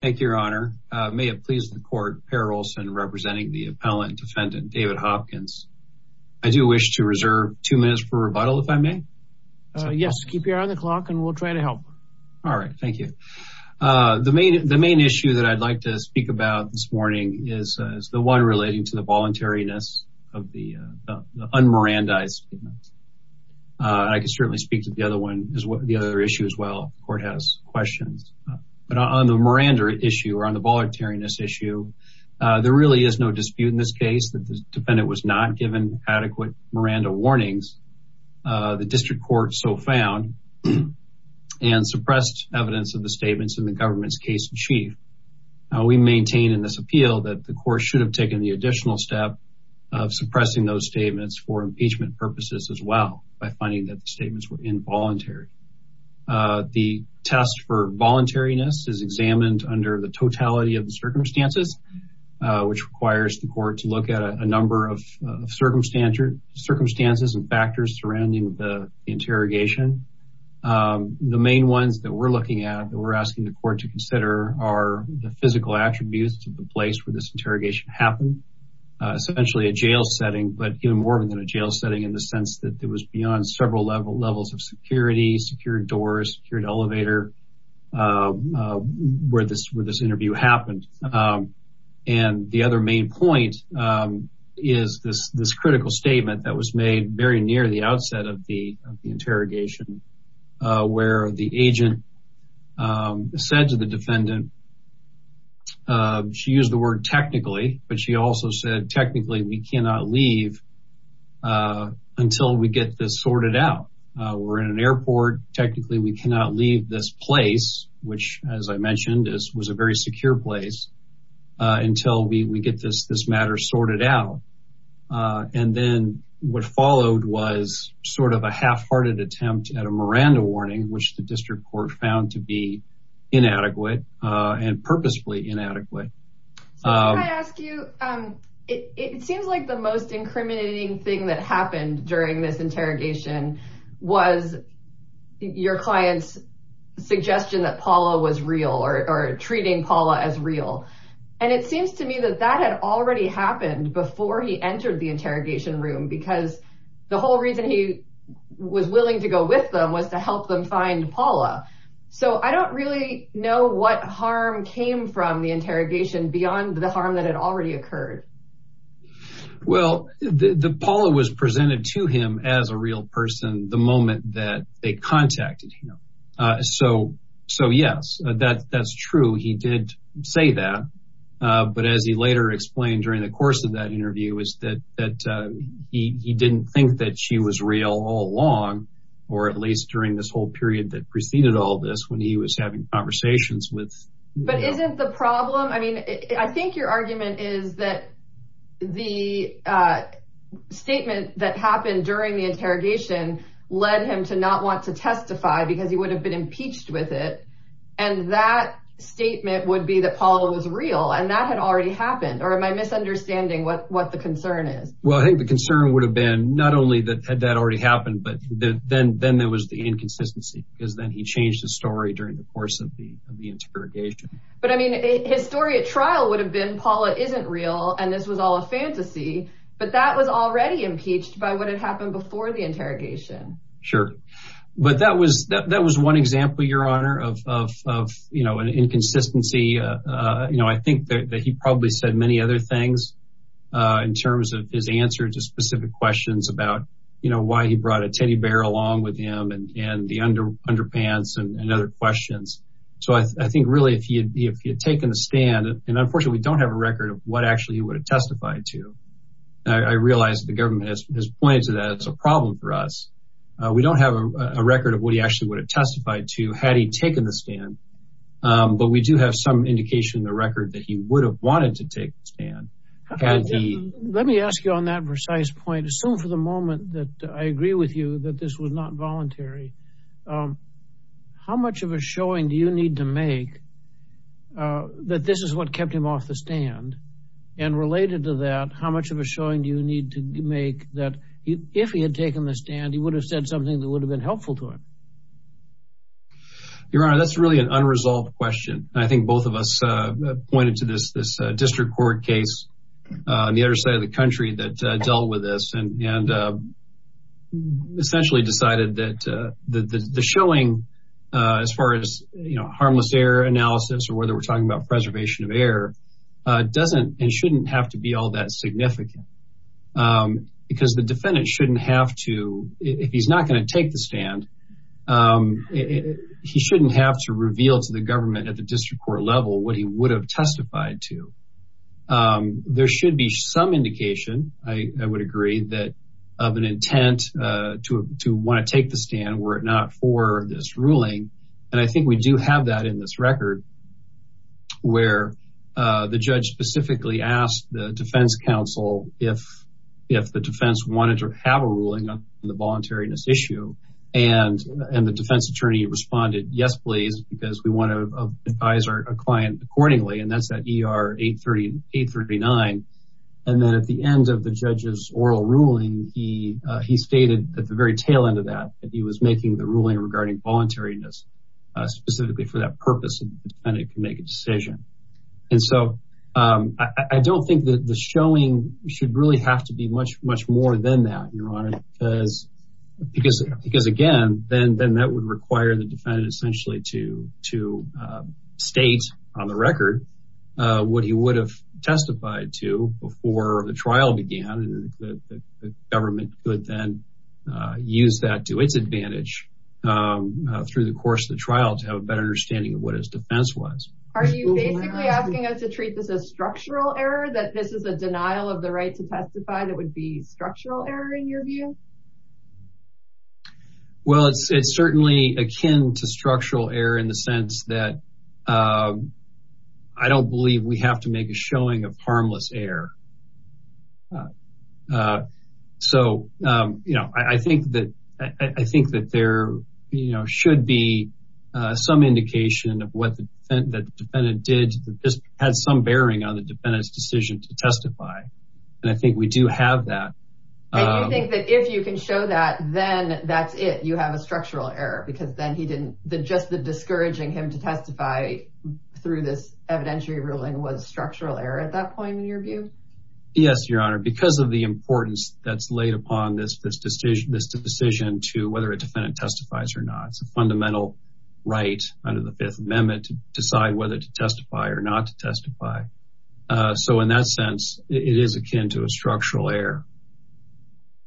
I do wish to reserve two minutes for rebuttal, if I may. Yes, keep your eye on the clock and we'll try to help. All right, thank you. The main issue that I'd like to speak about this morning is the one relating to the voluntariness of the un-Mirandized statements. I can certainly speak to the other issue as well if the court has questions. But on the Miranda issue or on the voluntariness issue, there really is no dispute in this case that the defendant was not given adequate Miranda warnings. The district court so found and suppressed evidence of the statements in the government's case in chief. We maintain in this appeal that the court should have taken the additional step of suppressing those statements for impeachment purposes as well by finding that the statements were involuntary. The test for voluntariness is examined under the totality of the circumstances, which requires the court to look at a number of circumstances and factors surrounding the interrogation. The main ones that we're looking at that we're asking the court to consider are the physical attributes of the place where this interrogation happened. Essentially a jail setting, but even more than a jail setting in the sense that it was beyond several levels of security, secured doors, secured elevator where this interview happened. And the other main point is this critical statement that was made very near the outset of the interrogation where the agent said to the defendant, she used the word technically, but she also said technically we cannot leave until we get this sorted out. We're in an airport. Technically, we cannot leave this place, which, as I mentioned, was a very secure place until we get this matter sorted out. And then what followed was sort of a half hearted attempt at a Miranda warning, which the district court found to be inadequate and purposefully inadequate. I ask you, it seems like the most incriminating thing that happened during this interrogation was your client's suggestion that Paula was real or treating Paula as real. And it seems to me that that had already happened before he entered the interrogation room, because the whole reason he was willing to go with them was to help them find Paula. So I don't really know what harm came from the interrogation beyond the harm that had already occurred. Well, Paula was presented to him as a real person the moment that they contacted him. So so, yes, that's true. He did say that. But as he later explained during the course of that interview is that that he didn't think that she was real all along, or at least during this whole period that preceded all this when he was having conversations with. But isn't the problem I mean, I think your argument is that the statement that happened during the interrogation led him to not want to testify because he would have been impeached with it. And that statement would be that Paula was real and that had already happened. Or am I misunderstanding what what the concern is? Well, I think the concern would have been not only that that already happened, but then then there was the inconsistency because then he changed the story during the course of the interrogation. But I mean, his story at trial would have been Paula isn't real. And this was all a fantasy. But that was already impeached by what had happened before the interrogation. Sure. But that was that was one example, Your Honor, of, you know, an inconsistency. You know, I think that he probably said many other things in terms of his answer to specific questions about, you know, why he brought a teddy bear along with him and the underpants and other questions. So I think really, if he had taken the stand, and unfortunately, we don't have a record of what actually he would have testified to. I realize the government has pointed to that as a problem for us. We don't have a record of what he actually would have testified to had he taken the stand. But we do have some indication in the record that he would have wanted to take the stand. Let me ask you on that precise point. Assume for the moment that I agree with you that this was not voluntary. How much of a showing do you need to make that this is what kept him off the stand? And related to that, how much of a showing do you need to make that if he had taken the stand, he would have said something that would have been helpful to him? Your Honor, that's really an unresolved question. I think both of us pointed to this district court case on the other side of the country that dealt with this and essentially decided that the showing, as far as, you know, harmless air analysis or whether we're talking about preservation of air, doesn't and shouldn't have to be all that significant. Because the defendant shouldn't have to, if he's not going to take the stand, he shouldn't have to reveal to the government at the district court level what he would have testified to. There should be some indication, I would agree, that of an intent to want to take the stand were it not for this ruling. And I think we do have that in this record where the judge specifically asked the defense counsel if the defense wanted to have a ruling on the voluntariness issue. And the defense attorney responded, yes, please, because we want to advise our client accordingly. And that's that ER 839. And then at the end of the judge's oral ruling, he stated at the very tail end of that, that he was making the ruling regarding voluntariness specifically for that purpose and the defendant can make a decision. And so I don't think that the showing should really have to be much, much more than that, Your Honor, because again, then that would require the defendant essentially to state on the record what he would have testified to before the trial began. And the government could then use that to its advantage through the course of the trial to have a better understanding of what his defense was. Are you basically asking us to treat this as structural error, that this is a denial of the right to testify that would be structural error in your view? Well, it's certainly akin to structural error in the sense that I don't believe we have to make a showing of harmless error. So I think that there should be some indication of what the defendant did that just had some bearing on the defendant's decision to testify. And I think we do have that. And you think that if you can show that, then that's it, you have a structural error because then he didn't, just the discouraging him to testify through this evidentiary ruling was structural error at that point in your view? Yes, Your Honor, because of the importance that's laid upon this decision to whether a defendant testifies or not. It's a fundamental right under the Fifth Amendment to decide whether to testify or not to testify. So in that sense, it is akin to a structural error.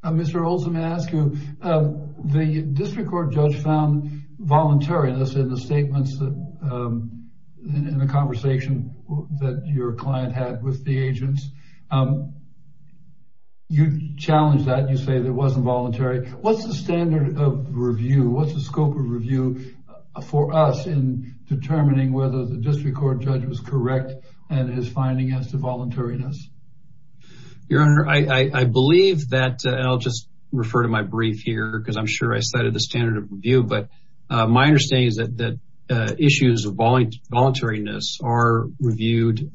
Mr. Olson, may I ask you, the district court judge found voluntariness in the statements, in the conversation that your client had with the agents. You challenged that, you say that it wasn't voluntary. What's the standard of review? What's the scope of review for us in determining whether the district court judge was correct and his finding as to voluntariness? Your Honor, I believe that, and I'll just refer to my brief here because I'm sure I cited the standard of review. But my understanding is that issues of voluntariness are reviewed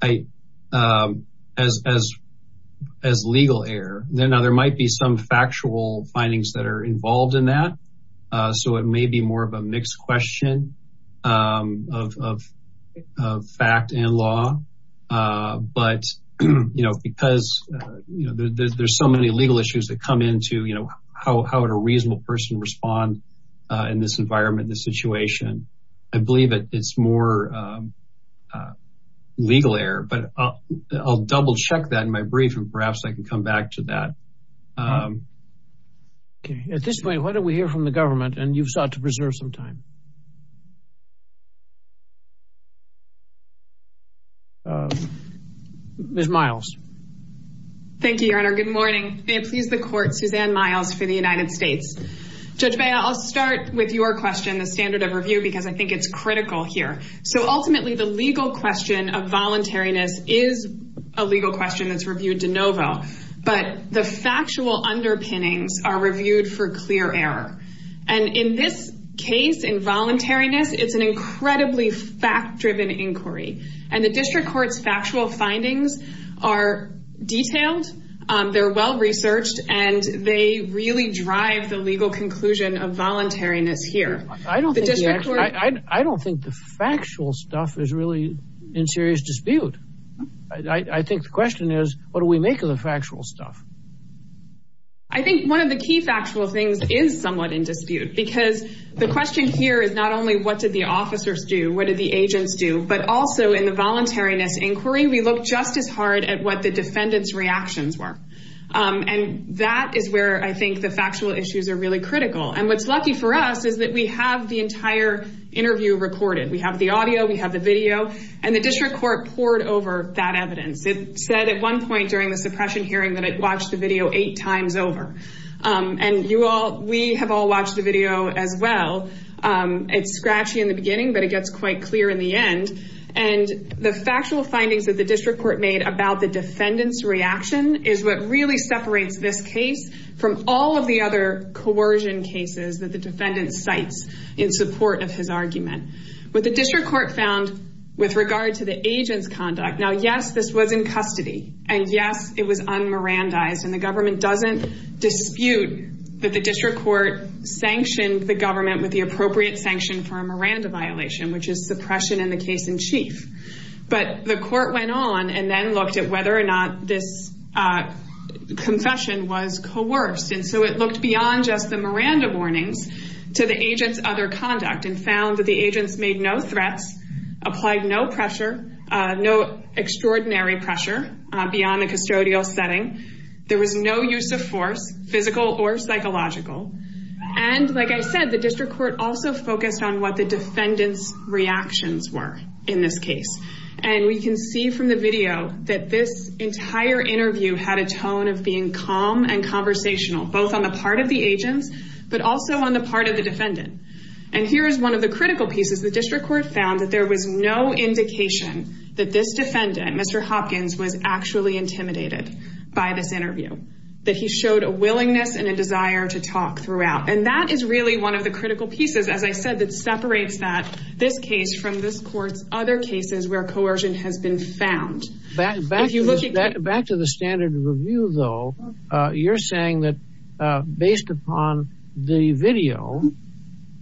as legal error. Now, there might be some factual findings that are involved in that, so it may be more of a mixed question of fact and law. But because there's so many legal issues that come into how would a reasonable person respond in this environment, this situation, I believe it's more legal error. But I'll double-check that in my brief, and perhaps I can come back to that. At this point, why don't we hear from the government, and you've sought to preserve some time. Ms. Miles. Thank you, Your Honor. Good morning. May it please the Court, Suzanne Miles for the United States. Judge Bea, I'll start with your question, the standard of review, because I think it's critical here. So ultimately, the legal question of voluntariness is a legal question that's reviewed de novo. But the factual underpinnings are reviewed for clear error. And in this case, in voluntariness, it's an incredibly fact-driven inquiry. And the district court's factual findings are detailed, they're well-researched, and they really drive the legal conclusion of voluntariness here. I don't think the factual stuff is really in serious dispute. I think the question is, what do we make of the factual stuff? I think one of the key factual things is somewhat in dispute, because the question here is not only what did the officers do, what did the agents do, but also in the voluntariness inquiry, we looked just as hard at what the defendants' reactions were. And that is where I think the factual issues are really critical. And what's lucky for us is that we have the entire interview recorded. We have the audio, we have the video, and the district court poured over that evidence. It said at one point during the suppression hearing that it watched the video eight times over. And we have all watched the video as well. It's scratchy in the beginning, but it gets quite clear in the end. And the factual findings that the district court made about the defendant's reaction is what really separates this case from all of the other coercion cases that the defendant cites in support of his argument. What the district court found with regard to the agent's conduct, now, yes, this was in custody. And, yes, it was un-Mirandaized. And the government doesn't dispute that the district court sanctioned the government with the appropriate sanction for a Miranda violation, which is suppression in the case in chief. But the court went on and then looked at whether or not this confession was coerced. And so it looked beyond just the Miranda warnings to the agent's other conduct and found that the agents made no threats, applied no pressure, no extraordinary pressure beyond the custodial setting. There was no use of force, physical or psychological. And, like I said, the district court also focused on what the defendant's reactions were in this case. And we can see from the video that this entire interview had a tone of being calm and conversational, both on the part of the agents, but also on the part of the defendant. And here is one of the critical pieces. The district court found that there was no indication that this defendant, Mr. Hopkins, was actually intimidated by this interview, that he showed a willingness and a desire to talk throughout. And that is really one of the critical pieces, as I said, that separates that this case from this court's other cases where coercion has been found. Back to the standard review, though, you're saying that based upon the video,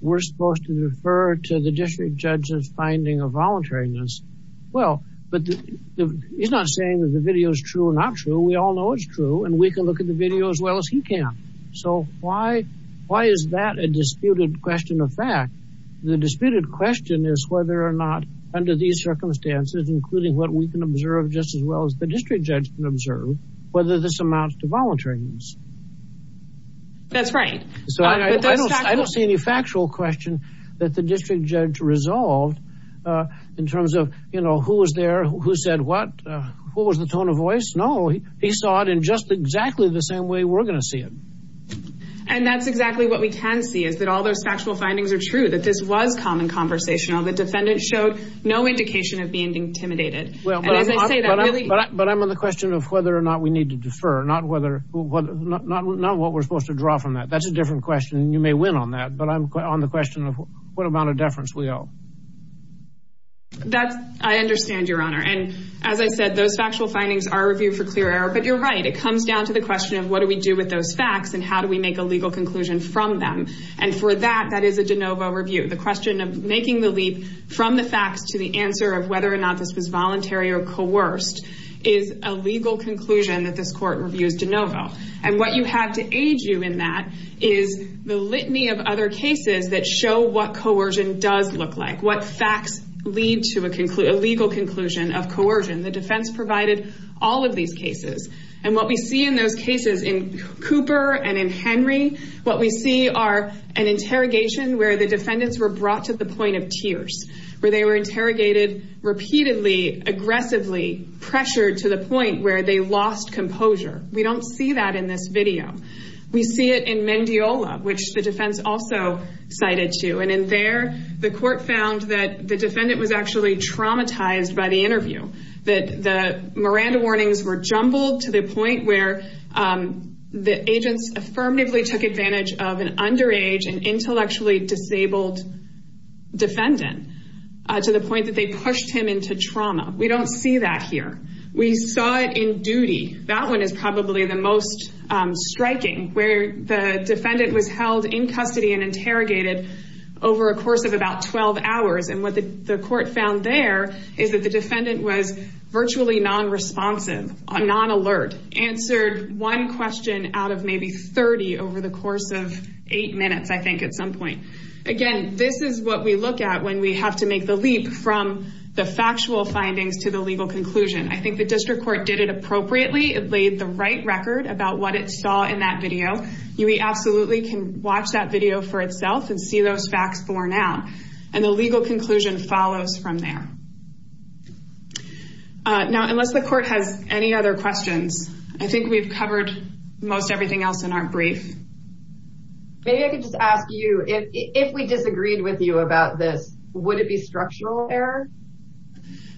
we're supposed to refer to the district judge's finding of voluntariness. Well, but he's not saying that the video is true or not true. We all know it's true. And we can look at the video as well as he can. So why is that a disputed question of fact? The disputed question is whether or not under these circumstances, including what we can observe just as well as the district judge can observe, whether this amounts to voluntariness. That's right. I don't see any factual question that the district judge resolved in terms of, you know, who was there, who said what, what was the tone of voice? No, he saw it in just exactly the same way we're going to see it. And that's exactly what we can see is that all those factual findings are true, that this was common conversational. The defendant showed no indication of being intimidated. But I'm on the question of whether or not we need to defer, not what we're supposed to draw from that. That's a different question. And you may win on that. But I'm on the question of what amount of deference we owe. I understand, Your Honor. And as I said, those factual findings are reviewed for clear error. But you're right. It comes down to the question of what do we do with those facts and how do we make a legal conclusion from them. And for that, that is a de novo review. The question of making the leap from the facts to the answer of whether or not this was voluntary or coerced is a legal conclusion that this court reviews de novo. And what you have to age you in that is the litany of other cases that show what coercion does look like, what facts lead to a legal conclusion of coercion. The defense provided all of these cases. And what we see in those cases in Cooper and in Henry, what we see are an interrogation where the defendants were brought to the point of tears, where they were interrogated repeatedly, aggressively, pressured to the point where they lost composure. We don't see that in this video. We see it in Mendiola, which the defense also cited to. And in there, the court found that the defendant was actually traumatized by the interview, that the Miranda warnings were jumbled to the point where the agents affirmatively took advantage of an underage and intellectually disabled defendant to the point that they pushed him into trauma. We don't see that here. That one is probably the most striking, where the defendant was held in custody and interrogated over a course of about 12 hours. And what the court found there is that the defendant was virtually non-responsive, non-alert, answered one question out of maybe 30 over the course of eight minutes, I think, at some point. Again, this is what we look at when we have to make the leap from the factual findings to the legal conclusion. I think the district court did it appropriately. It laid the right record about what it saw in that video. We absolutely can watch that video for itself and see those facts borne out. And the legal conclusion follows from there. Now, unless the court has any other questions, I think we've covered most everything else in our brief. Maybe I could just ask you, if we disagreed with you about this, would it be structural error?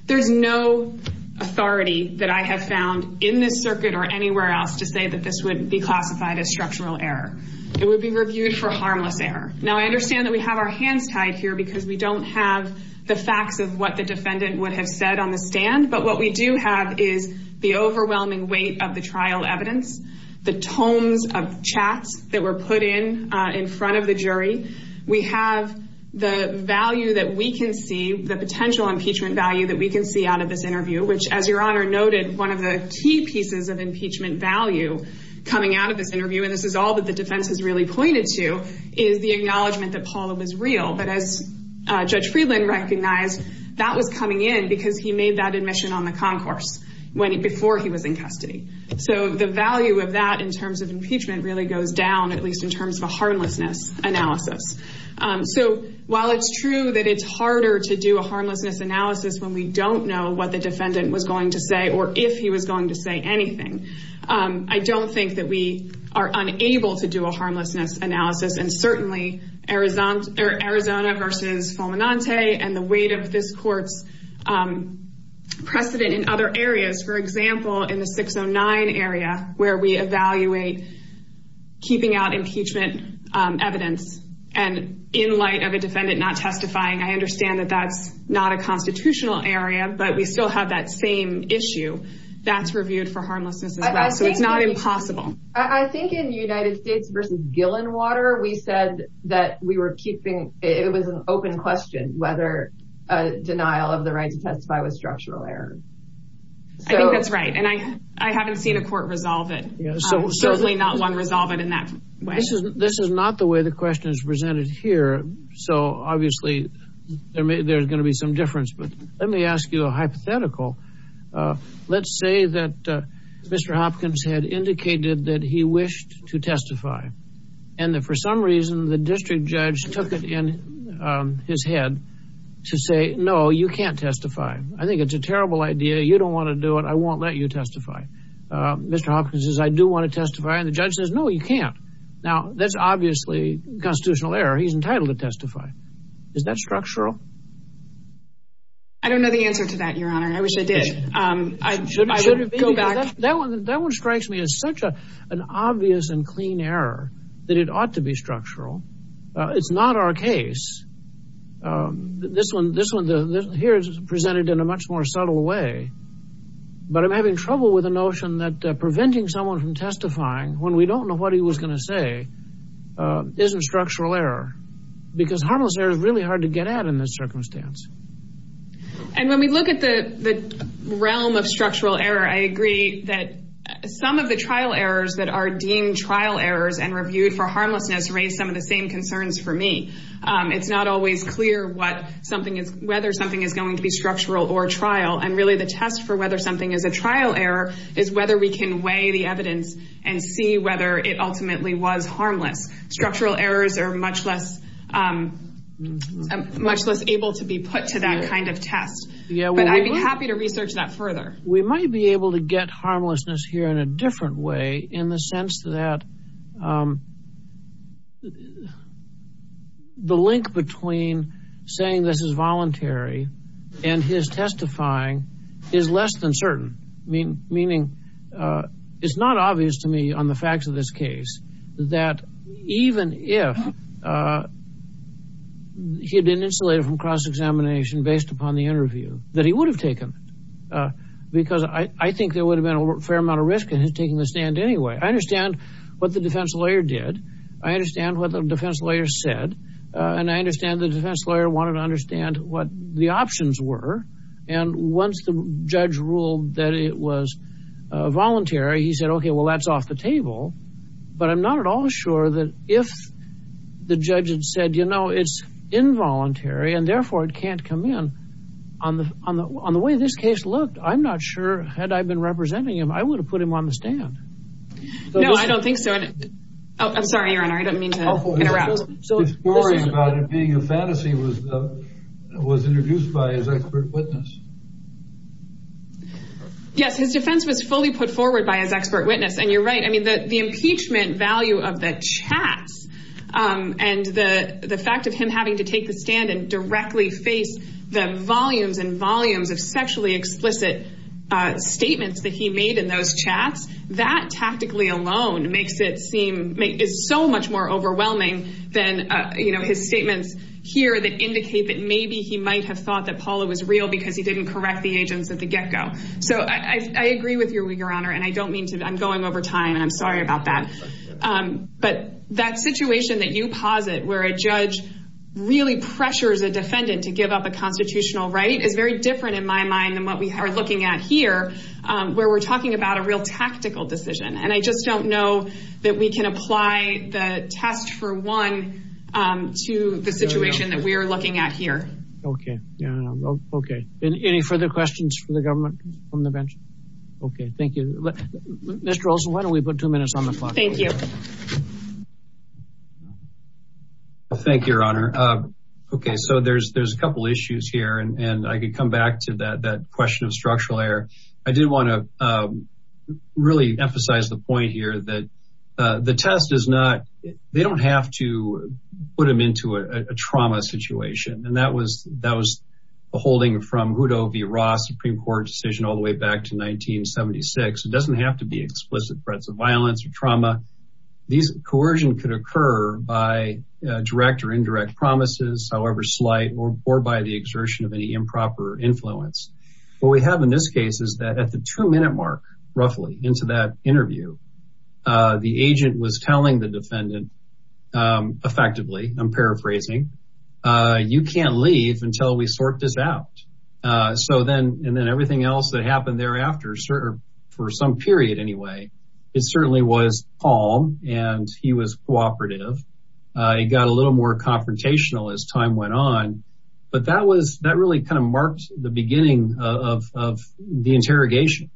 There's no authority that I have found in this circuit or anywhere else to say that this would be classified as structural error. It would be reviewed for harmless error. Now, I understand that we have our hands tied here because we don't have the facts of what the defendant would have said on the stand. But what we do have is the overwhelming weight of the trial evidence, the tomes of chats that were put in in front of the jury. We have the value that we can see, the potential impeachment value that we can see out of this interview, which, as Your Honor noted, one of the key pieces of impeachment value coming out of this interview, and this is all that the defense has really pointed to, is the acknowledgment that Paula was real. But as Judge Friedland recognized, that was coming in because he made that admission on the concourse before he was in custody. So the value of that in terms of impeachment really goes down, at least in terms of a harmlessness analysis. So while it's true that it's harder to do a harmlessness analysis when we don't know what the defendant was going to say or if he was going to say anything, I don't think that we are unable to do a harmlessness analysis. And certainly Arizona versus Fulminante and the weight of this court's precedent in other areas, for example, in the 609 area, where we evaluate keeping out impeachment evidence and in light of a defendant not testifying, I understand that that's not a constitutional area, but we still have that same issue that's reviewed for harmlessness as well. So it's not impossible. I think in the United States versus Gillenwater, we said that we were keeping – it was an open question whether a denial of the right to testify was structural error. I think that's right, and I haven't seen a court resolve it. Certainly not one resolve it in that way. This is not the way the question is presented here, so obviously there's going to be some difference. But let me ask you a hypothetical. Let's say that Mr. Hopkins had indicated that he wished to testify and that for some reason the district judge took it in his head to say, no, you can't testify. I think it's a terrible idea. You don't want to do it. I won't let you testify. Mr. Hopkins says, I do want to testify, and the judge says, no, you can't. Now, that's obviously constitutional error. He's entitled to testify. Is that structural? I don't know the answer to that, Your Honor. I wish I did. I should go back. That one strikes me as such an obvious and clean error that it ought to be structural. It's not our case. This one here is presented in a much more subtle way. But I'm having trouble with the notion that preventing someone from testifying when we don't know what he was going to say isn't structural error because harmless error is really hard to get at in this circumstance. And when we look at the realm of structural error, I agree that some of the trial errors that are deemed trial errors and reviewed for harmlessness raise some of the same concerns for me. It's not always clear whether something is going to be structural or trial, and really the test for whether something is a trial error is whether we can weigh the evidence and see whether it ultimately was harmless. Structural errors are much less able to be put to that kind of test. But I'd be happy to research that further. We might be able to get harmlessness here in a different way in the sense that the link between saying this is voluntary and his testifying is less than certain, meaning it's not obvious to me on the facts of this case that even if he had been insulated from cross-examination based upon the interview, that he would have taken it because I think there would have been a fair amount of risk in his taking the stand anyway. I understand what the defense lawyer did. I understand what the defense lawyer said. And I understand the defense lawyer wanted to understand what the options were. And once the judge ruled that it was voluntary, he said, okay, well, that's off the table. But I'm not at all sure that if the judge had said, you know, it's involuntary and therefore it can't come in, on the way this case looked, I'm not sure had I been representing him, I would have put him on the stand. No, I don't think so. I'm sorry, Your Honor. I didn't mean to interrupt. His story about it being a fantasy was introduced by his expert witness. Yes, his defense was fully put forward by his expert witness, and you're right. I mean, the impeachment value of the chats and the fact of him having to take the stand and directly face the volumes and volumes of sexually explicit statements that he made in those chats, that tactically alone makes it seem so much more overwhelming than, you know, his statements here that indicate that maybe he might have thought that Paula was real because he didn't correct the agents at the get-go. So I agree with you, Your Honor, and I don't mean to—I'm going over time, and I'm sorry about that. But that situation that you posit, where a judge really pressures a defendant to give up a constitutional right, is very different in my mind than what we are looking at here, where we're talking about a real tactical decision. And I just don't know that we can apply the test for one to the situation that we are looking at here. Okay. Okay. Any further questions for the government from the bench? Okay, thank you. Mr. Olson, why don't we put two minutes on the clock? Thank you. Thank you, Your Honor. Okay, so there's a couple issues here, and I could come back to that question of structural error. I did want to really emphasize the point here that the test is not— And that was a holding from Hutto v. Ross Supreme Court decision all the way back to 1976. It doesn't have to be explicit threats of violence or trauma. These—coercion could occur by direct or indirect promises, however slight, or by the exertion of any improper influence. What we have in this case is that at the two-minute mark, roughly, into that interview, the agent was telling the defendant, effectively, I'm paraphrasing, you can't leave until we sort this out. So then—and then everything else that happened thereafter, for some period anyway, it certainly was calm, and he was cooperative. It got a little more confrontational as time went on. But that was—that really kind of marked the beginning of the interrogation.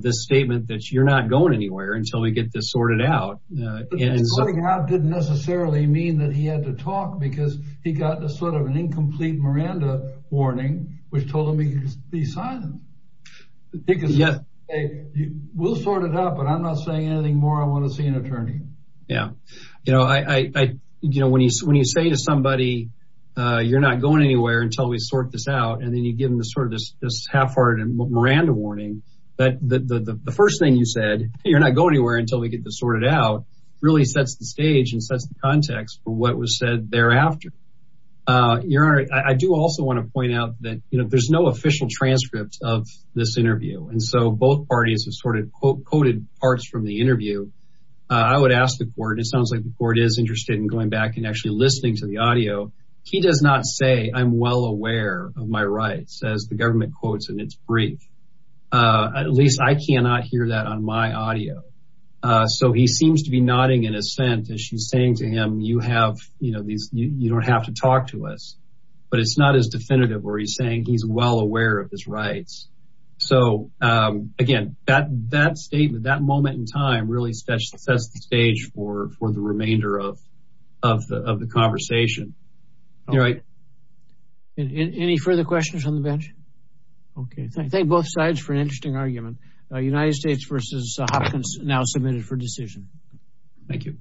This statement that you're not going anywhere until we get this sorted out. But going out didn't necessarily mean that he had to talk, because he got a sort of an incomplete Miranda warning, which told him he could be silent. He could say, we'll sort it out, but I'm not saying anything more. I want to see an attorney. Yeah. You know, when you say to somebody, you're not going anywhere until we sort this out, and then you give them sort of this half-hearted Miranda warning, the first thing you said, you're not going anywhere until we get this sorted out, really sets the stage and sets the context for what was said thereafter. Your Honor, I do also want to point out that there's no official transcript of this interview, and so both parties have sort of quoted parts from the interview. I would ask the court—it sounds like the court is interested in going back and actually listening to the audio. He does not say, I'm well aware of my rights, as the government quotes in its brief. At least I cannot hear that on my audio. So he seems to be nodding in assent as she's saying to him, you don't have to talk to us. But it's not as definitive where he's saying he's well aware of his rights. So, again, that statement, that moment in time really sets the stage for the remainder of the conversation. You're right. Any further questions on the bench? Okay. Thank both sides for an interesting argument. United States v. Hopkins now submitted for decision. Thank you.